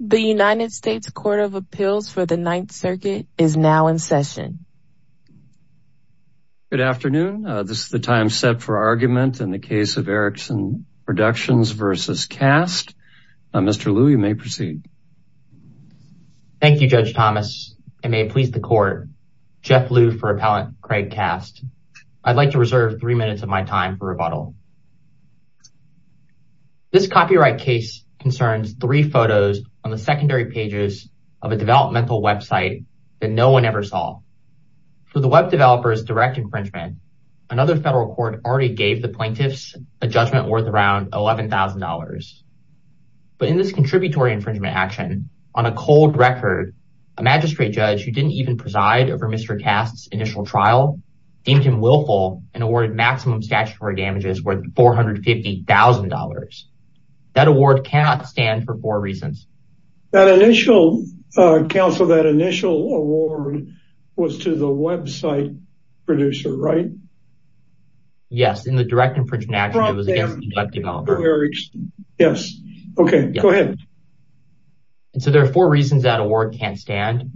The United States Court of Appeals for the Ninth Circuit is now in session. Good afternoon. This is the time set for argument in the case of Erickson Productions v. Kast. Mr. Liu, you may proceed. Thank you, Judge Thomas. I may please the court. Jeff Liu for appellant Kraig Kast. I'd like to reserve three minutes of my time for rebuttal. This copyright case concerns three photos on the secondary pages of a developmental website that no one ever saw. For the web developer's direct infringement, another federal court already gave the plaintiffs a judgment worth around $11,000. But in this contributory infringement action, on a cold record, a magistrate judge who didn't even preside over Mr. Kast's initial trial deemed him willful and awarded maximum statutory damages worth $450,000. That award cannot stand for four reasons. That initial, uh, counsel, that initial award was to the website producer, right? Yes, in the direct infringement action, it was against the web developer. Yes. Okay, go ahead. And so there are four reasons that award can't stand.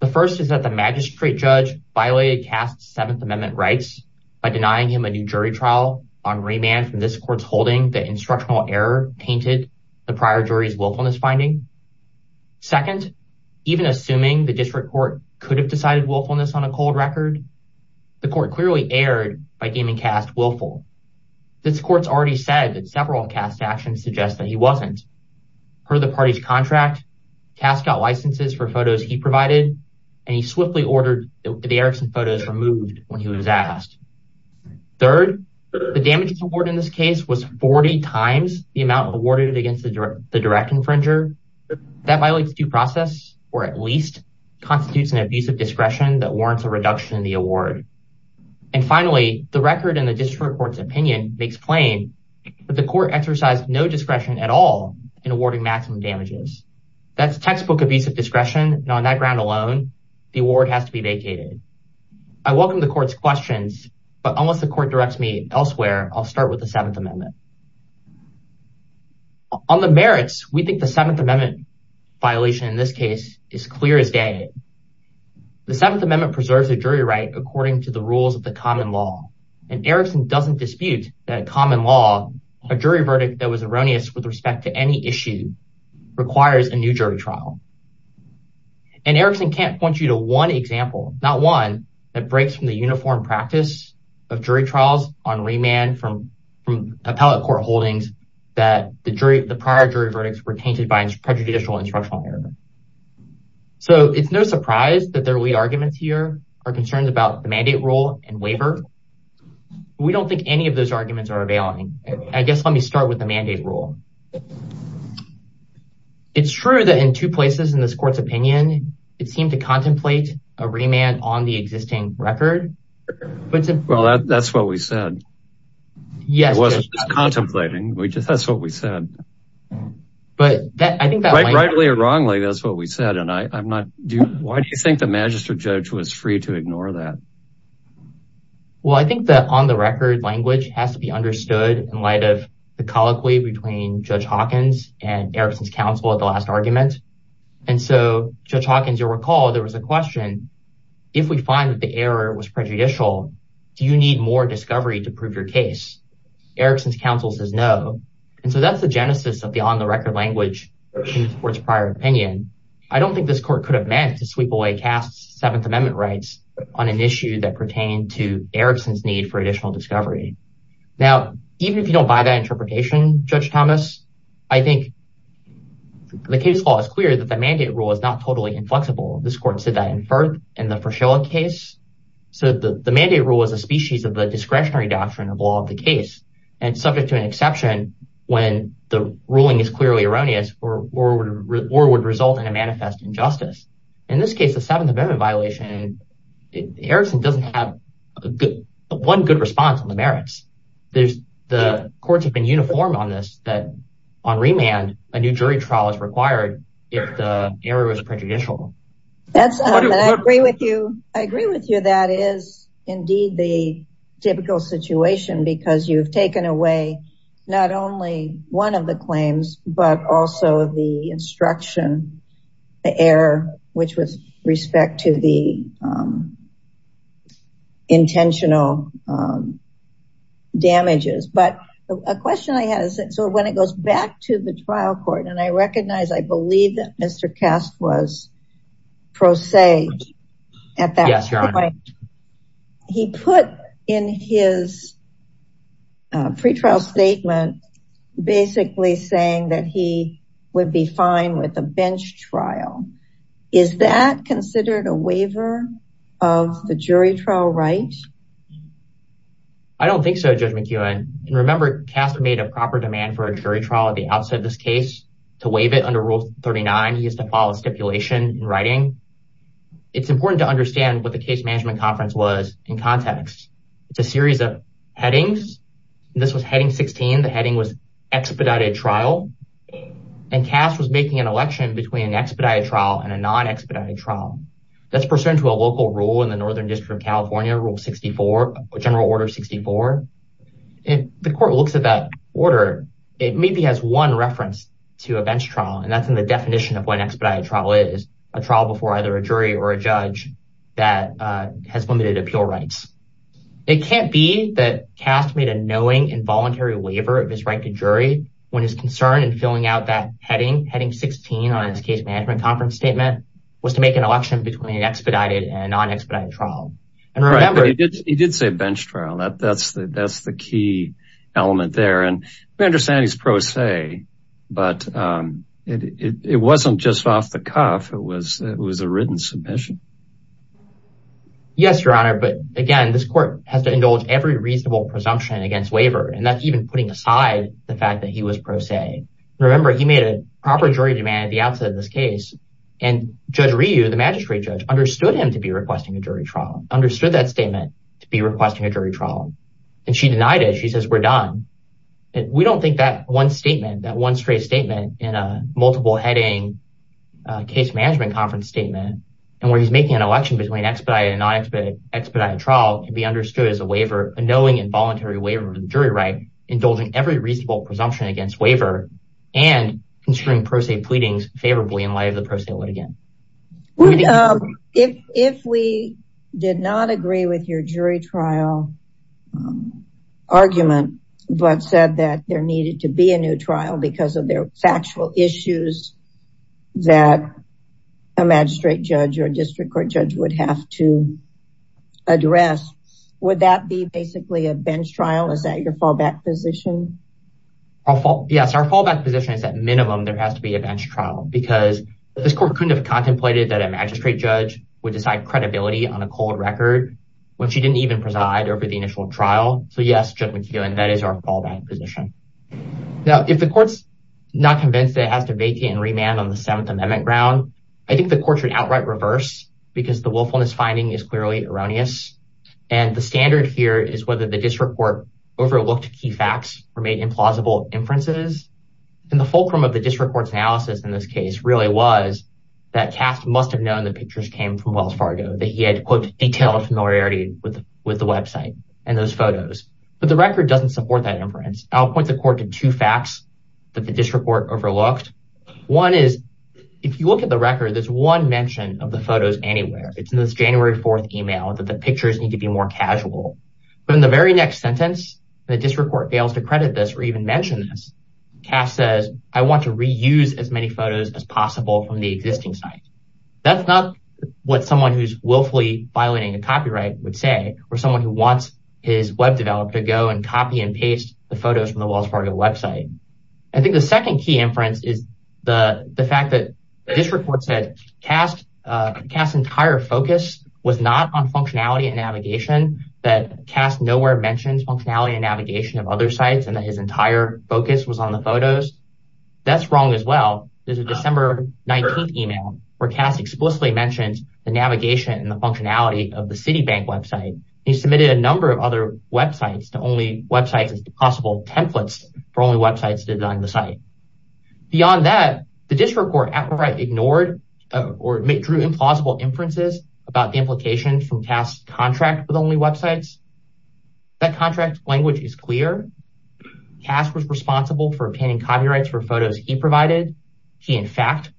The first is that the magistrate judge violated Kast's seventh amendment rights by denying him a new jury trial on remand from this court's holding that instructional error painted the prior jury's willfulness finding. Second, even assuming the district court could have decided willfulness on a cold record, the court clearly erred by deeming Kast willful. This court's already said that several Kast actions suggest that he wasn't. Per the party's contract, Kast got licenses for photos he provided and he swiftly ordered the Erickson photos removed when he was asked. Third, the damages award in this case was 40 times the amount awarded against the direct infringer. That violates due process, or at least constitutes an abuse of discretion that warrants a reduction in the award. And finally, the record and the district court's opinion makes plain that the court exercised no discretion at all in awarding maximum damages. That's textbook abuse of discretion, and on that ground alone, the award has to be vacated. I welcome the court's questions, but unless the court directs me elsewhere, I'll start with the seventh amendment. On the merits, we think the seventh amendment violation in this case is clear as day. The seventh amendment preserves a jury right according to the rules of the common law, and Erickson doesn't dispute that a common law, a jury verdict that was erroneous with any issue, requires a new jury trial. And Erickson can't point you to one example, not one, that breaks from the uniform practice of jury trials on remand from appellate court holdings that the prior jury verdicts were tainted by prejudicial instructional error. So it's no surprise that their lead arguments here are concerns about the mandate rule and waiver. We don't think any of those arguments are availing. I guess let me start with the mandate rule. It's true that in two places in this court's opinion, it seemed to contemplate a remand on the existing record. Well, that's what we said. It wasn't just contemplating. That's what we said. Rightly or wrongly, that's what we said. Why do you think the magistrate judge was free to ignore that? Well, I think that on the record language has to be understood in light of the colloquy between Judge Hawkins and Erickson's counsel at the last argument. And so, Judge Hawkins, you'll recall, there was a question, if we find that the error was prejudicial, do you need more discovery to prove your case? Erickson's counsel says no. And so that's the genesis of the on the record language in the court's prior opinion. I don't think this court could have meant to sweep away cast Seventh Amendment rights on an issue that pertained to Erickson's need for additional discovery. Now, even if you don't buy that interpretation, Judge Thomas, I think the case law is clear that the mandate rule is not totally inflexible. This court said that in the Frashoa case. So the mandate rule is a species of the discretionary doctrine of law of the case and subject to an exception when the ruling is clearly erroneous or would result in a manifest injustice. In this case, the Seventh Amendment violation, Erickson doesn't have one good response on the merits. The courts have been uniformed on this, that on remand, a new jury trial is required if the error was prejudicial. I agree with you. That is indeed the typical situation because you've taken away not only one of the claims, but also the instruction, the error, which was respect to the intentional damages. But a question I had, so when it goes back to the trial court, and I recognize, I believe that Mr. Kast was pro se at that point. He put in his pretrial statement, basically saying that he would be fine with a bench trial. Is that considered a waiver of the jury trial right? I don't think so, Judge McKeown. Remember, Kast made a proper demand for a jury trial at the outset of this case to waive it under Rule 39. He has to follow stipulation in writing. It's important to understand what the case management conference was in context. It's a Heading 16. The heading was expedited trial. Kast was making an election between an expedited trial and a non-expedited trial. That's pursuant to a local rule in the Northern District of California, Rule 64, General Order 64. If the court looks at that order, it maybe has one reference to a bench trial. That's in the definition of what an expedited trial is, a trial before either a jury or appeal rights. It can't be that Kast made a knowing involuntary waiver of his right to jury when his concern in filling out that heading, Heading 16 on his case management conference statement, was to make an election between an expedited and non-expedited trial. He did say bench trial. That's the key element there. We understand he's pro se, but it wasn't just off the cuff. It was a written submission. Yes, Your Honor, but again, this court has to indulge every reasonable presumption against waiver. That's even putting aside the fact that he was pro se. Remember, he made a proper jury demand at the outset of this case. Judge Ryu, the magistrate judge, understood him to be requesting a jury trial, understood that statement to be requesting a jury trial. She denied it. She says, we're done. We don't think that one statement, that one straight statement in a multiple heading case management conference statement, and where he's making an election between expedited and non-expedited, expedited trial can be understood as a waiver, a knowing involuntary waiver of the jury right, indulging every reasonable presumption against waiver and considering pro se pleadings favorably in light of the pro se litigant. If we did not agree with your jury trial argument, but said that there needed to be a new trial because of their factual issues, that a magistrate judge or district court judge would have to address, would that be basically a bench trial? Is that your fallback position? Yes, our fallback position is that minimum there has to be a bench trial because this court couldn't have contemplated that a magistrate judge would decide credibility on a cold record when she didn't even preside over the initial trial. So yes, Judge McKeown, that is our fallback position. Now, if the court's not convinced that it has to vacate and remand on the Seventh Amendment ground, I think the court should outright reverse because the willfulness finding is clearly erroneous. And the standard here is whether the district court overlooked key facts or made implausible inferences. And the fulcrum of the district court's analysis in this case really was that Cass must have known the pictures came from Wells Fargo, that he had, quote, detailed familiarity with the website and those photos. But the record doesn't support that the court did two facts that the district court overlooked. One is, if you look at the record, there's one mention of the photos anywhere. It's in this January 4th email that the pictures need to be more casual. But in the very next sentence, the district court fails to credit this or even mention this. Cass says, I want to reuse as many photos as possible from the existing site. That's not what someone who's willfully violating a copyright would say, or someone who wants his web developer to go and copy and paste the photos from the Wells Fargo website. I think the second key inference is the fact that this report said Cass' entire focus was not on functionality and navigation, that Cass nowhere mentions functionality and navigation of other sites and that his entire focus was on the photos. That's wrong as well. There's a December 19th email where Cass explicitly mentions the navigation and the functionality of the Citibank website. He submitted a number of other websites to only websites as possible templates for only websites to design the site. Beyond that, the district court outright ignored or drew implausible inferences about the implications from Cass' contract with only websites. That contract language is clear. Cass was responsible for obtaining copyrights for photos he provided. He, in fact,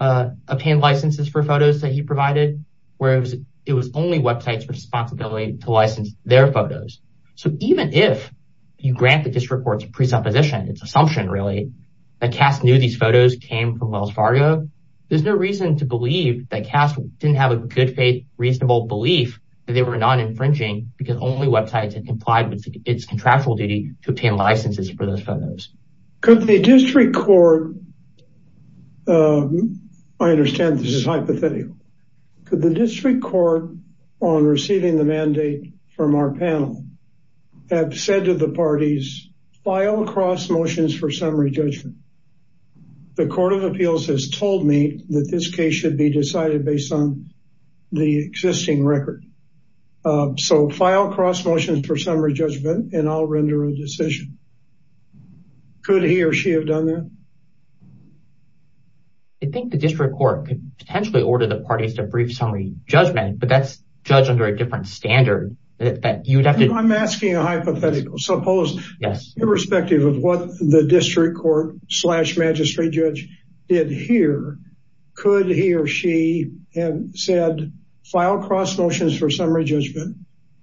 obtained licenses for photos that he provided, whereas it was only websites responsibility to license their photos. So even if you grant the district court's presupposition, its assumption really, that Cass knew these photos came from Wells Fargo, there's no reason to believe that Cass didn't have a good faith, reasonable belief that they were not infringing because only websites had complied with its contractual duty to obtain licenses for those photos. Could the district court, I understand this is hypothetical, could the district court on receiving the mandate from our panel have said to the parties, file cross motions for summary judgment. The court of appeals has told me that this case should be decided based on the existing record. So file cross motions for summary judgment and I'll render a decision. Could he or she have done that? I think the district court could potentially order the parties to brief summary judgment, but that's judged under a different standard. I'm asking a hypothetical. Suppose irrespective of what the district court slash magistrate judge did here, could he or she have said file cross motions for summary judgment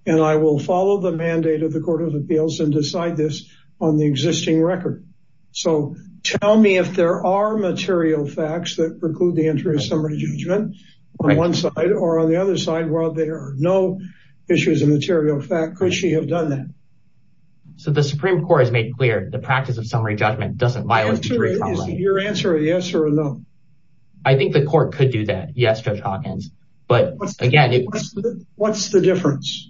and I will follow the mandate of the court of appeals and decide this on the existing record. So tell me if there are material facts that preclude the entry of summary judgment on one side or on the other side while there are no issues of material fact. Could she have done that? So the supreme court has made clear the practice of summary judgment doesn't violate the jury. Is your answer a yes or a no? I think the court could do that. Yes, Judge Hawkins, but again, what's the difference?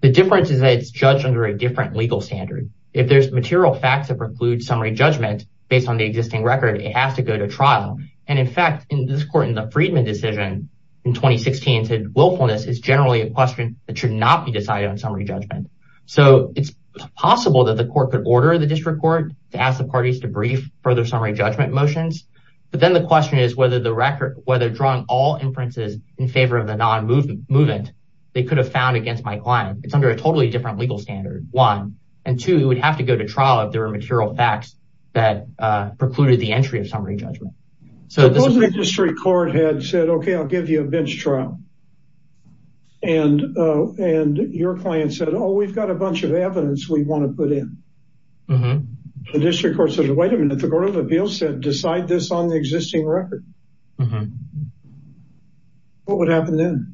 The difference is that it's judged under a different legal standard. If there's material facts that preclude summary judgment based on the existing record, it has to go to trial. And in fact, in this court, in the Friedman decision in 2016, said willfulness is generally a question that should not be decided on summary judgment. So it's possible that the court could order the district court to ask the parties to brief further summary judgment motions, but then the question is whether the record, whether drawing all inferences in favor of the non-movement they could have found against my client. It's under a totally different legal standard, one. And two, it would have to go to trial if there were material facts that precluded the entry of summary judgment. Suppose the district court had said, okay, I'll give you a bench trial. And your client said, oh, we've got a bunch of evidence we want to put in. The district court said, wait a minute, the court of appeals said decide this on the existing record. What would happen then?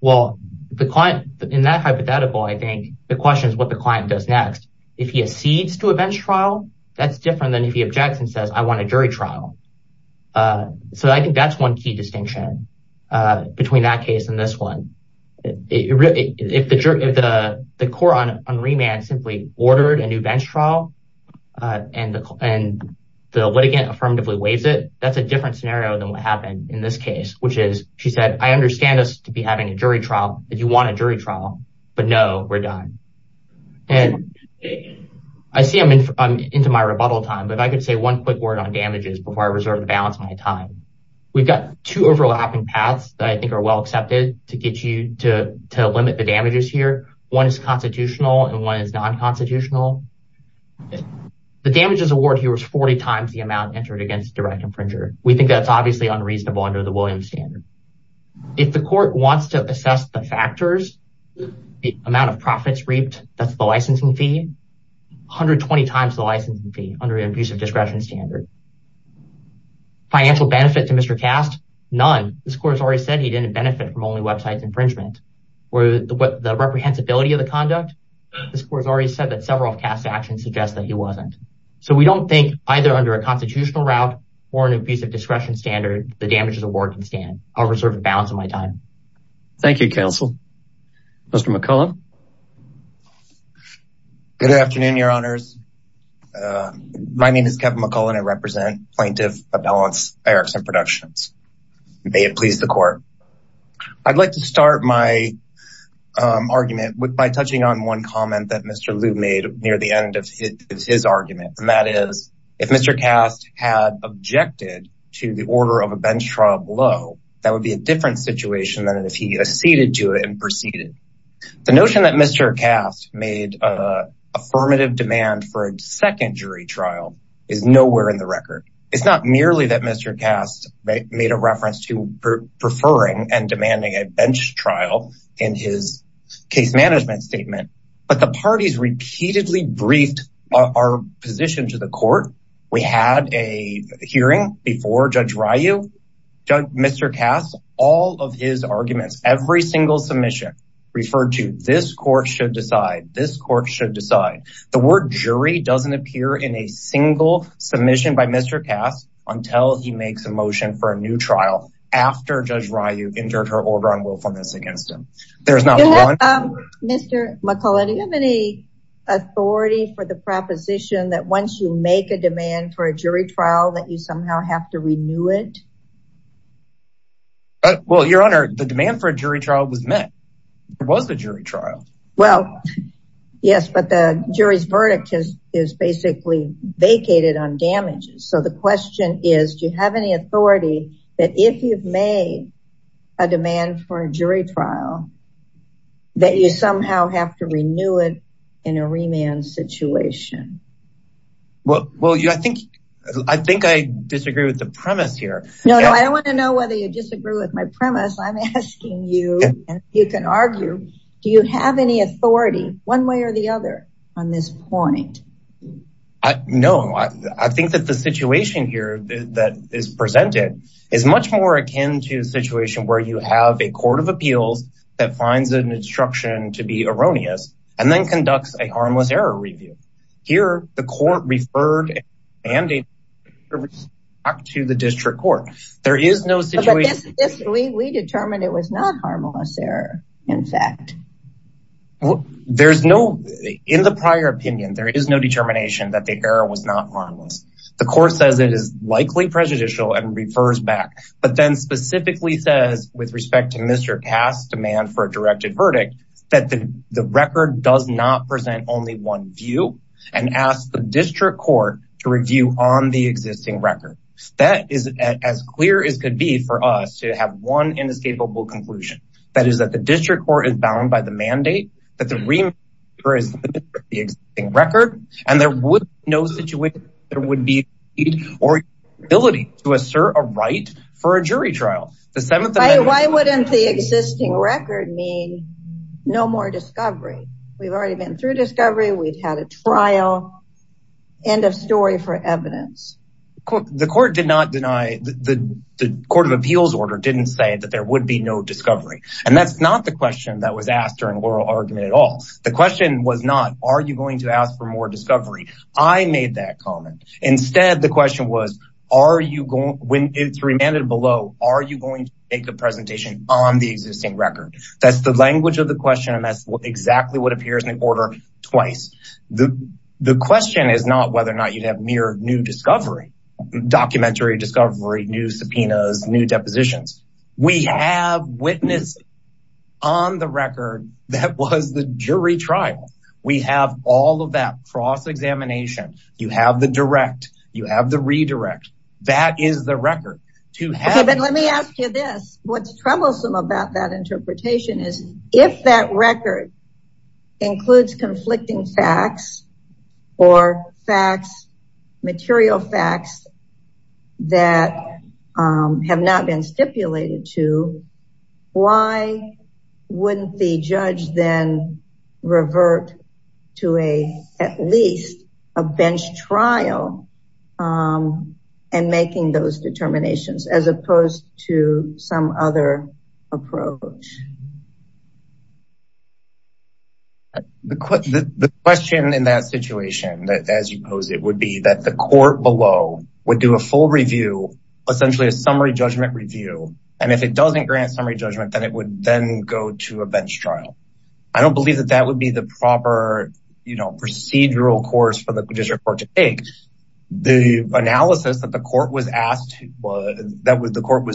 Well, the client, in that hypothetical, I think the question is what the client does next. If he accedes to a bench trial, that's different than if he objects and says, I want a jury trial. So I think that's one key distinction between that case and this one. If the court on remand simply ordered a new bench trial and the litigant affirmatively waives it, that's a different scenario than what happened in this case, which is, she said, I understand us to be having a jury trial, that you want a jury trial, but no, we're done. And I see I'm into my rebuttal time, but if I could say one quick word on damages before I reserve the balance of my time, we've got two overlapping paths that I think are well accepted to get you to limit the damages here. One is constitutional and one is non-constitutional. The damages award here was 40 times the amount entered against direct infringer. We think that's obviously unreasonable under the Williams standard. If the court wants to assess the factors, the amount of profits reaped, that's the licensing fee, 120 times the licensing fee under an abusive discretion standard. Financial benefit to Mr. Cast, none. This court has already said he didn't benefit from only websites infringement. The reprehensibility of the conduct, this court has already said that several of Cast's actions suggest that he wasn't. So we don't think either under a constitutional route or an abusive discretion standard, the damages award can stand. I'll reserve the balance of my time. Thank you, counsel. Mr. McCullen. Good afternoon, your honors. My name is Kevin McCullen. I represent Plaintiff Appellants Erickson Productions. May it please the court. I'd like to start my argument by touching on one comment that Mr. Liu made near the end of his argument. And that is, if Mr. Cast had objected to the order of a bench trial below, that would be a different situation than if he acceded to it and proceeded. The notion that Mr. Cast made an affirmative demand for a bench trial is clearly that Mr. Cast made a reference to preferring and demanding a bench trial in his case management statement. But the parties repeatedly briefed our position to the court. We had a hearing before Judge Ryu, Mr. Cast, all of his arguments, every single submission referred to this court should decide, this court should decide. The word jury doesn't appear in a single submission by Mr. Cast until he makes a motion for a new trial after Judge Ryu entered her order on willfulness against him. There's not one. Mr. McCullen, do you have any authority for the proposition that once you make a demand for a jury trial that you somehow have to renew it? Well, your honor, the demand for a jury trial was met. It was a jury trial. Well, yes, but the jury's verdict is basically vacated on damages. So the question is, do you have any authority that if you've made a demand for a jury trial that you somehow have to renew it in a remand situation? Well, I think I disagree with the premise here. No, I don't want to know whether you disagree with my premise. I'm asking you and you can argue. Do you have any authority one way or the other on this point? No, I think that the situation here that is presented is much more akin to a situation where you have a court of appeals that finds an instruction to be erroneous and then conducts a harmless error review. Here, the court referred a mandate to the district court. There is no situation. We determined it was not harmless error, in fact. There's no, in the prior opinion, there is no determination that the error was not harmless. The court says it is likely prejudicial and refers back, but then specifically says with respect to Mr. Cass' demand for a directed verdict, that the record does not present only one view and asks the district court to review on the existing record. That is as clear as could be for us to have one inescapable conclusion. That is that the district court is bound by the mandate that the remand is limited to the existing record and there would be no situation where there would or ability to assert a right for a jury trial. Why wouldn't the existing record mean no more discovery? We've already been through discovery. We've had a trial. End of story for evidence. The court did not deny, the court of appeals order didn't say that there would be no discovery and that's not the question that was asked during oral argument at all. The question was not, are you going to ask for more discovery? I made that comment. Instead, the question was, are you going, when it's remanded below, are you going to make a presentation on the existing record? That's the language of the question and that's exactly what appears in the order twice. The question is not whether or not you'd have mere new discovery, documentary discovery, new subpoenas, new depositions. We have witness on the record that was the jury trial. We have all of that cross-examination. You have the direct. You have the redirect. That is the record. Okay, but let me ask you this. What's troublesome about that interpretation is if that record includes conflicting facts or facts, material facts that have not been stipulated to, why wouldn't the judge then revert to at least a bench trial and making those determinations as opposed to some other approach? The question in that situation, as you pose it, would be that the court below would do a full review, essentially a summary judgment review, and if it doesn't grant summary judgment, then it would then go to a bench trial. I don't believe that that would be the proper procedural course for the district court to take. The analysis that the court was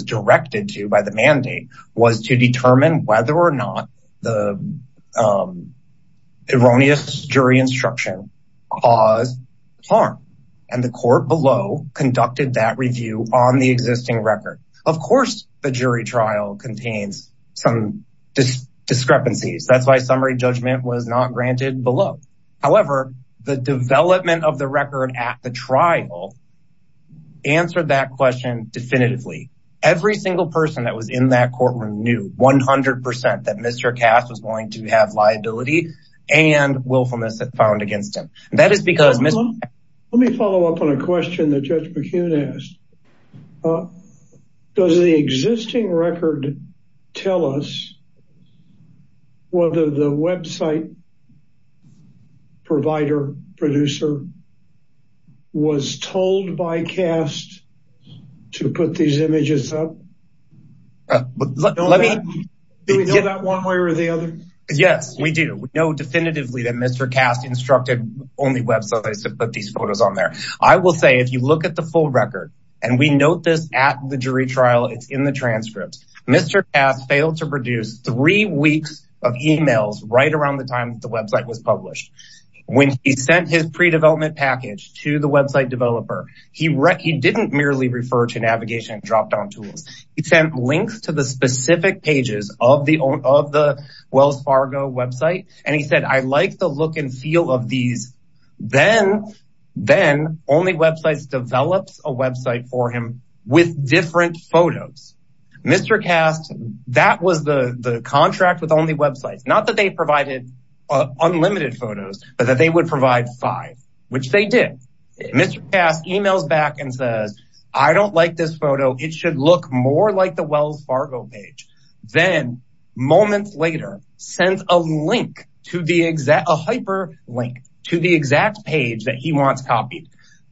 directed to by mandate was to determine whether or not the erroneous jury instruction caused harm, and the court below conducted that review on the existing record. Of course, the jury trial contains some discrepancies. That's why summary judgment was not granted below. However, the development of in that courtroom knew 100% that Mr. Kast was going to have liability and willfulness found against him. Let me follow up on a question that Judge McCune asked. Does the existing record tell us whether the website provider, producer, was told by Kast to put these images up? Do we know that one way or the other? Yes, we do. We know definitively that Mr. Kast instructed only websites to put these photos on there. I will say, if you look at the full record, and we note this at the jury trial, it's in the transcript, Mr. Kast failed to produce three weeks of emails right around the time the website was published. When he sent his pre-development package to the website developer, he didn't merely refer to navigation and drop-down tools. He sent links to the specific pages of the Wells Fargo website, and he said, I like the look and feel of these. Then Only Websites develops a website for him with different photos. Mr. Kast, that was the contract with Only Websites. Not that they provided unlimited photos, but that they would provide five, which they did. Mr. Kast emails back and says, I don't like this photo. It should look more like the Wells Fargo page. Then moments later, sends a hyperlink to the exact page that he wants copied.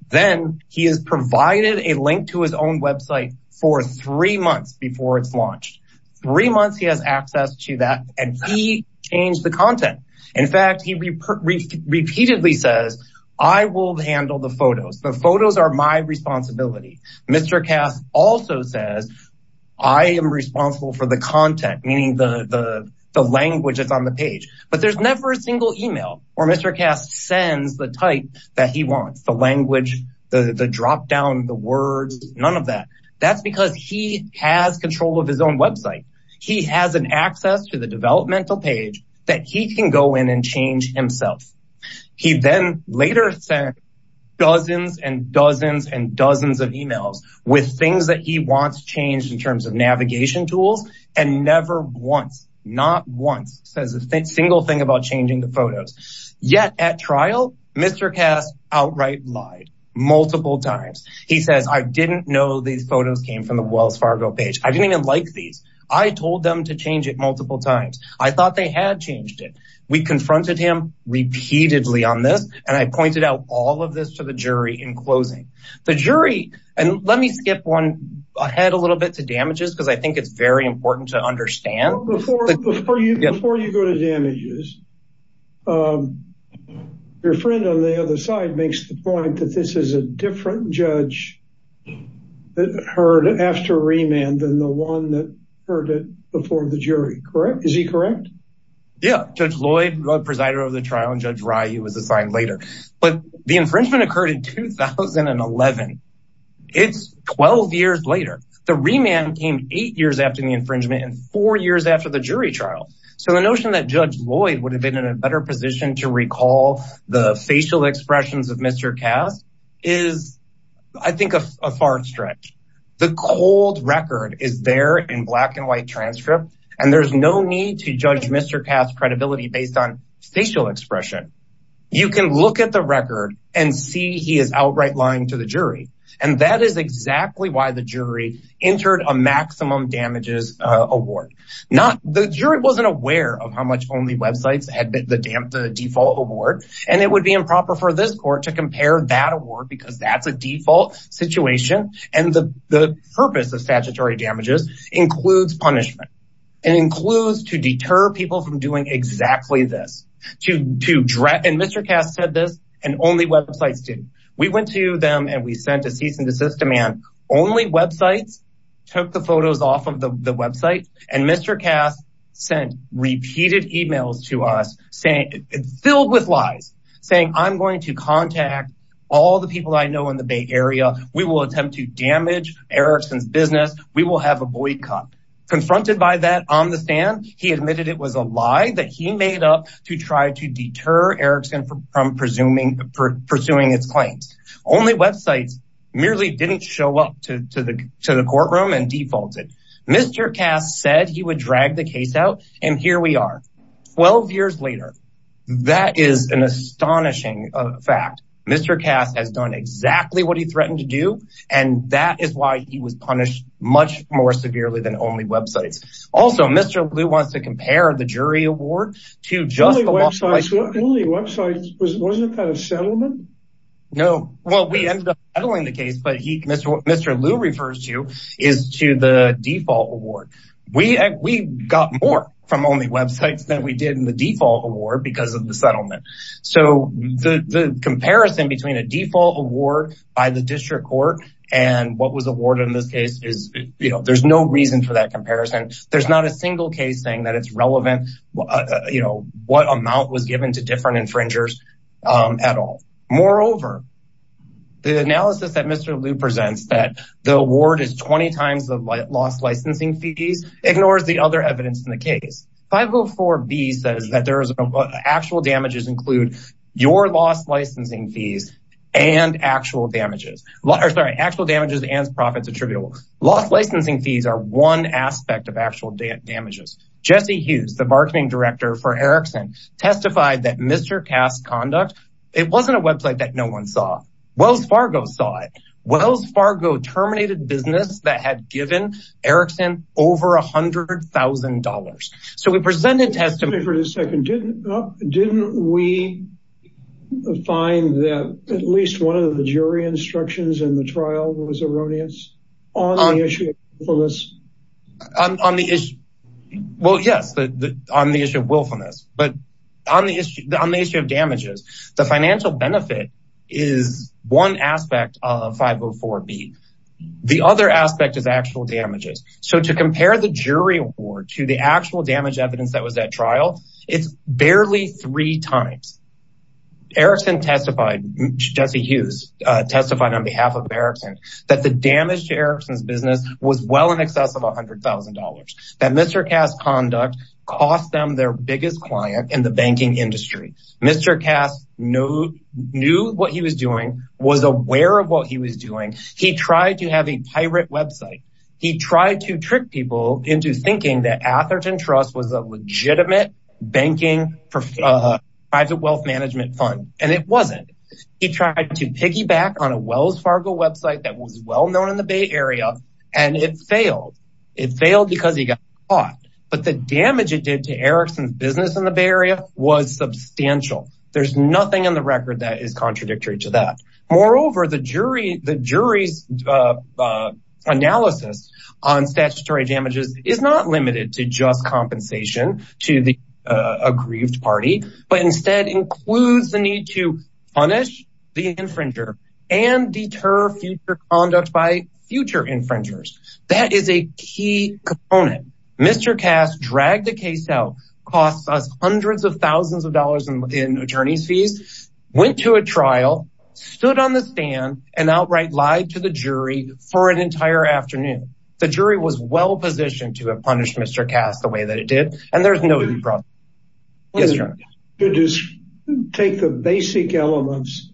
Then he is provided a link to his own website for three months before it's launched. Three months, he has access to that, and he changed the content. In fact, he repeatedly says, I will handle the photos. The photos are my responsibility. Mr. Kast also says, I am responsible for the content, meaning the language that's on the page. But there's never a single email where Mr. Kast sends the type that he wants, the language, the drop-down, the words, none of that. That's because he has control of his own website. He has an access to the website. He later sent dozens and dozens and dozens of emails with things that he wants changed in terms of navigation tools, and never once, not once, says a single thing about changing the photos. Yet at trial, Mr. Kast outright lied multiple times. He says, I didn't know these photos came from the Wells Fargo page. I didn't even like these. I told them to change it multiple times. I thought they had changed it. We confronted him repeatedly on this, and I pointed out all of this to the jury in closing. The jury, and let me skip ahead a little bit to damages, because I think it's very important to understand. Before you go to damages, your friend on the other side makes the point that this is a different judge that heard after remand than the one that heard it before the jury, correct? Is he correct? Yeah, Judge Lloyd, the presider of the trial, and Judge Rye, he was assigned later. But the infringement occurred in 2011. It's 12 years later. The remand came eight years after the infringement and four years after the jury trial. So the notion that Judge Lloyd would have been in a better position to recall the facial expressions of Mr. Kast is, I think, a far stretch. The cold record is there in black and white transcript, and there's no need to judge Mr. Kast's credibility based on facial expression. You can look at the record and see he is outright lying to the jury. And that is exactly why the jury entered a maximum damages award. The jury wasn't aware of how much Only Websites had the default award, and it would be improper for this court to compare that award, because that's a default situation. And the purpose of statutory damages includes punishment. It includes to deter people from doing exactly this. And Mr. Kast said this, and Only Websites did. We went to them and we sent a cease and desist demand. Only Websites took the photos off of the website, and Mr. Kast sent repeated emails to us filled with lies, saying, I'm going to contact all the people I know in the Bay Area. We will attempt to damage Erickson's business. We will have a boycott. Confronted by that on the stand, he admitted it was a lie that he made up to try to deter Erickson from pursuing its claims. Only Websites merely didn't show up to the courtroom and defaulted. Mr. Kast said he would drag the case out, and here we are, 12 years later. That is an astonishing fact. Mr. Kast has done exactly what he threatened to do, and that is why he was punished much more severely than Only Websites. Also, Mr. Lew wants to compare the jury award to just the lawful license. Only Websites, wasn't that a settlement? No. Well, we ended up settling the case, but what Mr. Lew refers to is to the default award. We got more from Only Websites than we did in the default award because of the settlement. So the comparison between a default award by the district court and what was awarded in this case, there's no reason for that comparison. There's not a single case saying that it's relevant, you know, what amount was given to different infringers at all. Moreover, the analysis that Mr. Lew presents that the award is 20 times the lost licensing fees ignores the other evidence in the case. 504B says that there is actual damages include your lost licensing fees and actual damages. Sorry, actual damages and profits attributable. Lost licensing fees are one aspect of actual damages. Jesse Hughes, the marketing director for Erickson testified that Mr. Cass conduct. It wasn't a website that no one saw. Wells Fargo saw it. Wells Fargo terminated business that had given Erickson over $100,000. So we presented testimony for the second. Didn't we find that at least one of the jury instructions in the trial was erroneous on the issue of willfulness? Well, yes, on the issue of willfulness, but on the issue of damages, the financial benefit is one aspect of 504B. The other aspect is actual damages. So to compare the jury award to the actual damage evidence that was at trial, it's barely three times. Erickson testified, Jesse Hughes testified on behalf of Erickson that the damage to Erickson's business was well in excess of $100,000. That Mr. Cass conduct cost them their biggest client in the banking industry. Mr. Cass knew what he was doing, was aware of what he was doing. He tried to have a pirate website. He tried to trick people into thinking that Atherton Trust was a legitimate banking private wealth management fund, and it wasn't. He tried to piggyback on a Wells Fargo website that was well known in the Bay Area, and it failed. It failed because he got caught. But the damage it did to Erickson's business in the Bay Area was substantial. There's nothing in the record that is contradictory to that. Moreover, the jury's analysis on statutory damages is not a grieved party, but instead includes the need to punish the infringer and deter future conduct by future infringers. That is a key component. Mr. Cass dragged the case out, cost us hundreds of thousands of dollars in attorney's fees, went to a trial, stood on the stand, and outright lied to the jury for an entire afternoon. The jury was well positioned to have punished Mr. Cass the way that it did, and there's no easy process. Yes, Your Honor. To take the basic elements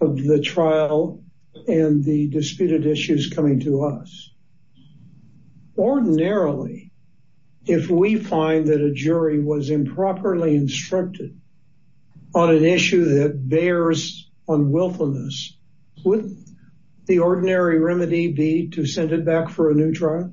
of the trial and the disputed issues coming to us, ordinarily, if we find that a jury was improperly instructed on an issue that bears on willfulness, wouldn't the ordinary remedy be to send it back for a new trial?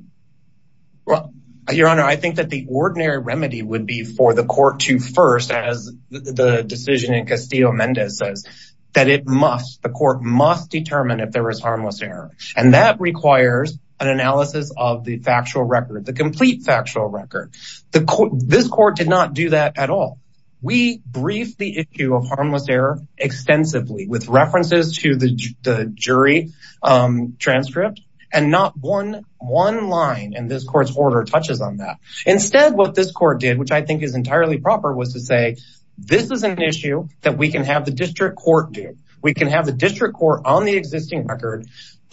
Well, Your Honor, I think that the ordinary remedy would be for the court to first, as the decision in Castillo-Mendez says, that it must, the court must determine if there was harmless error. And that requires an analysis of the factual record, the complete factual record. This court did not do that at all. We briefed the issue of harmless error extensively with references to the jury transcript, and not one line in this court's order touches on that. Instead, what this court did, which I think is entirely proper, was to say, this is an issue that we can have the district court do. We can have the district court on the existing record,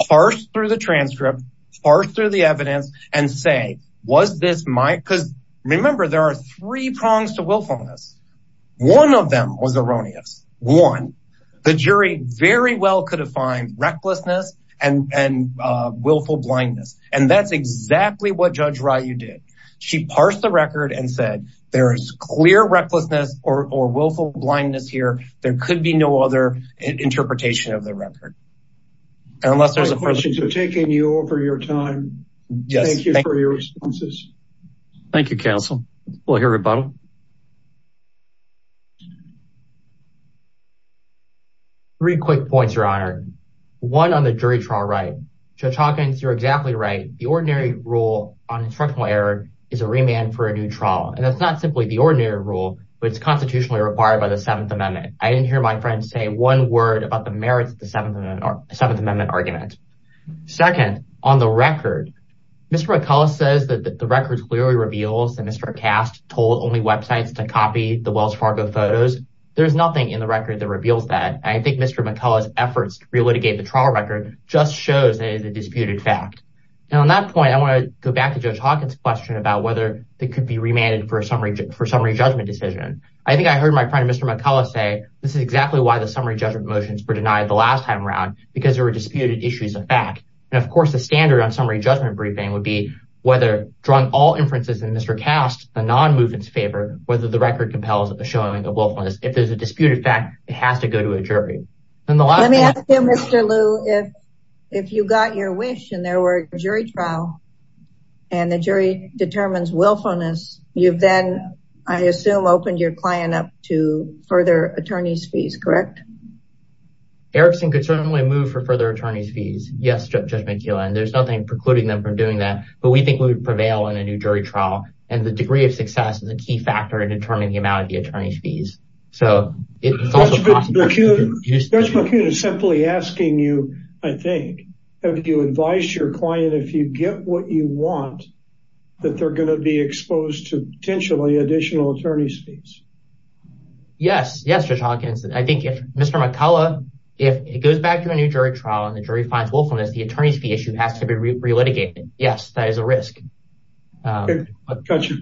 parse through the transcript, parse through the evidence, and say, was this my, because remember, there are three prongs to willfulness. One of them was erroneous. One, the jury very well could have fined recklessness and willful blindness. And that's exactly what Judge Ryu did. She parsed the record and said, there is clear recklessness or willful blindness here. There could be no other interpretation of the record. And unless there's a- My questions are taking you over your time. Thank you for your responses. Thank you, counsel. We'll hear about it. Three quick points, Your Honor. One on the jury trial right. Judge Hawkins, you're exactly right. The ordinary rule on instructional error is a remand for a new trial. And that's not simply the ordinary rule, but it's constitutionally required by the Seventh Amendment. I didn't hear my friend say one word about the merits of the Seventh Amendment argument. Second, on the record, Mr. McCullough says that the record clearly reveals that Mr. Kast told websites to copy the Wells Fargo photos. There's nothing in the record that reveals that. I think Mr. McCullough's efforts to relitigate the trial record just shows that it is a disputed fact. And on that point, I want to go back to Judge Hawkins' question about whether it could be remanded for a summary judgment decision. I think I heard my friend, Mr. McCullough say, this is exactly why the summary judgment motions were denied the last time around, because there were disputed issues of fact. And of course, the standard on summary judgment briefing would be whether, drawing all inferences in Mr. Kast's non-movement's favor, whether the record compels a showing of willfulness. If there's a disputed fact, it has to go to a jury. Let me ask you, Mr. Liu, if you got your wish and there were a jury trial and the jury determines willfulness, you've then, I assume, opened your client up to further attorney's fees, correct? Erickson could certainly move for further attorney's fees. Yes, and there's nothing precluding them from doing that, but we think we would prevail in a new jury trial. And the degree of success is a key factor in determining the amount of the attorney's fees. Judge McCune is simply asking you, I think, have you advised your client if you get what you want, that they're going to be exposed to potentially additional attorney's fees? Yes, yes, Judge Hawkins. I think if Mr. McCullough, if it goes back to a new jury trial and the jury finds willfulness, the attorney's fee issue has to be re-litigated. Yes, that is a risk. Thank you, Judge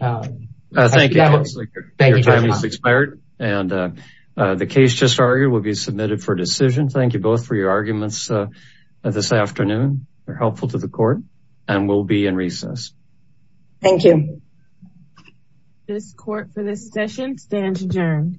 Laker. Your time has expired and the case just argued will be submitted for decision. Thank you both for your arguments this afternoon. They're helpful to the court and we'll be in recess. Thank you. This court for this session stands adjourned.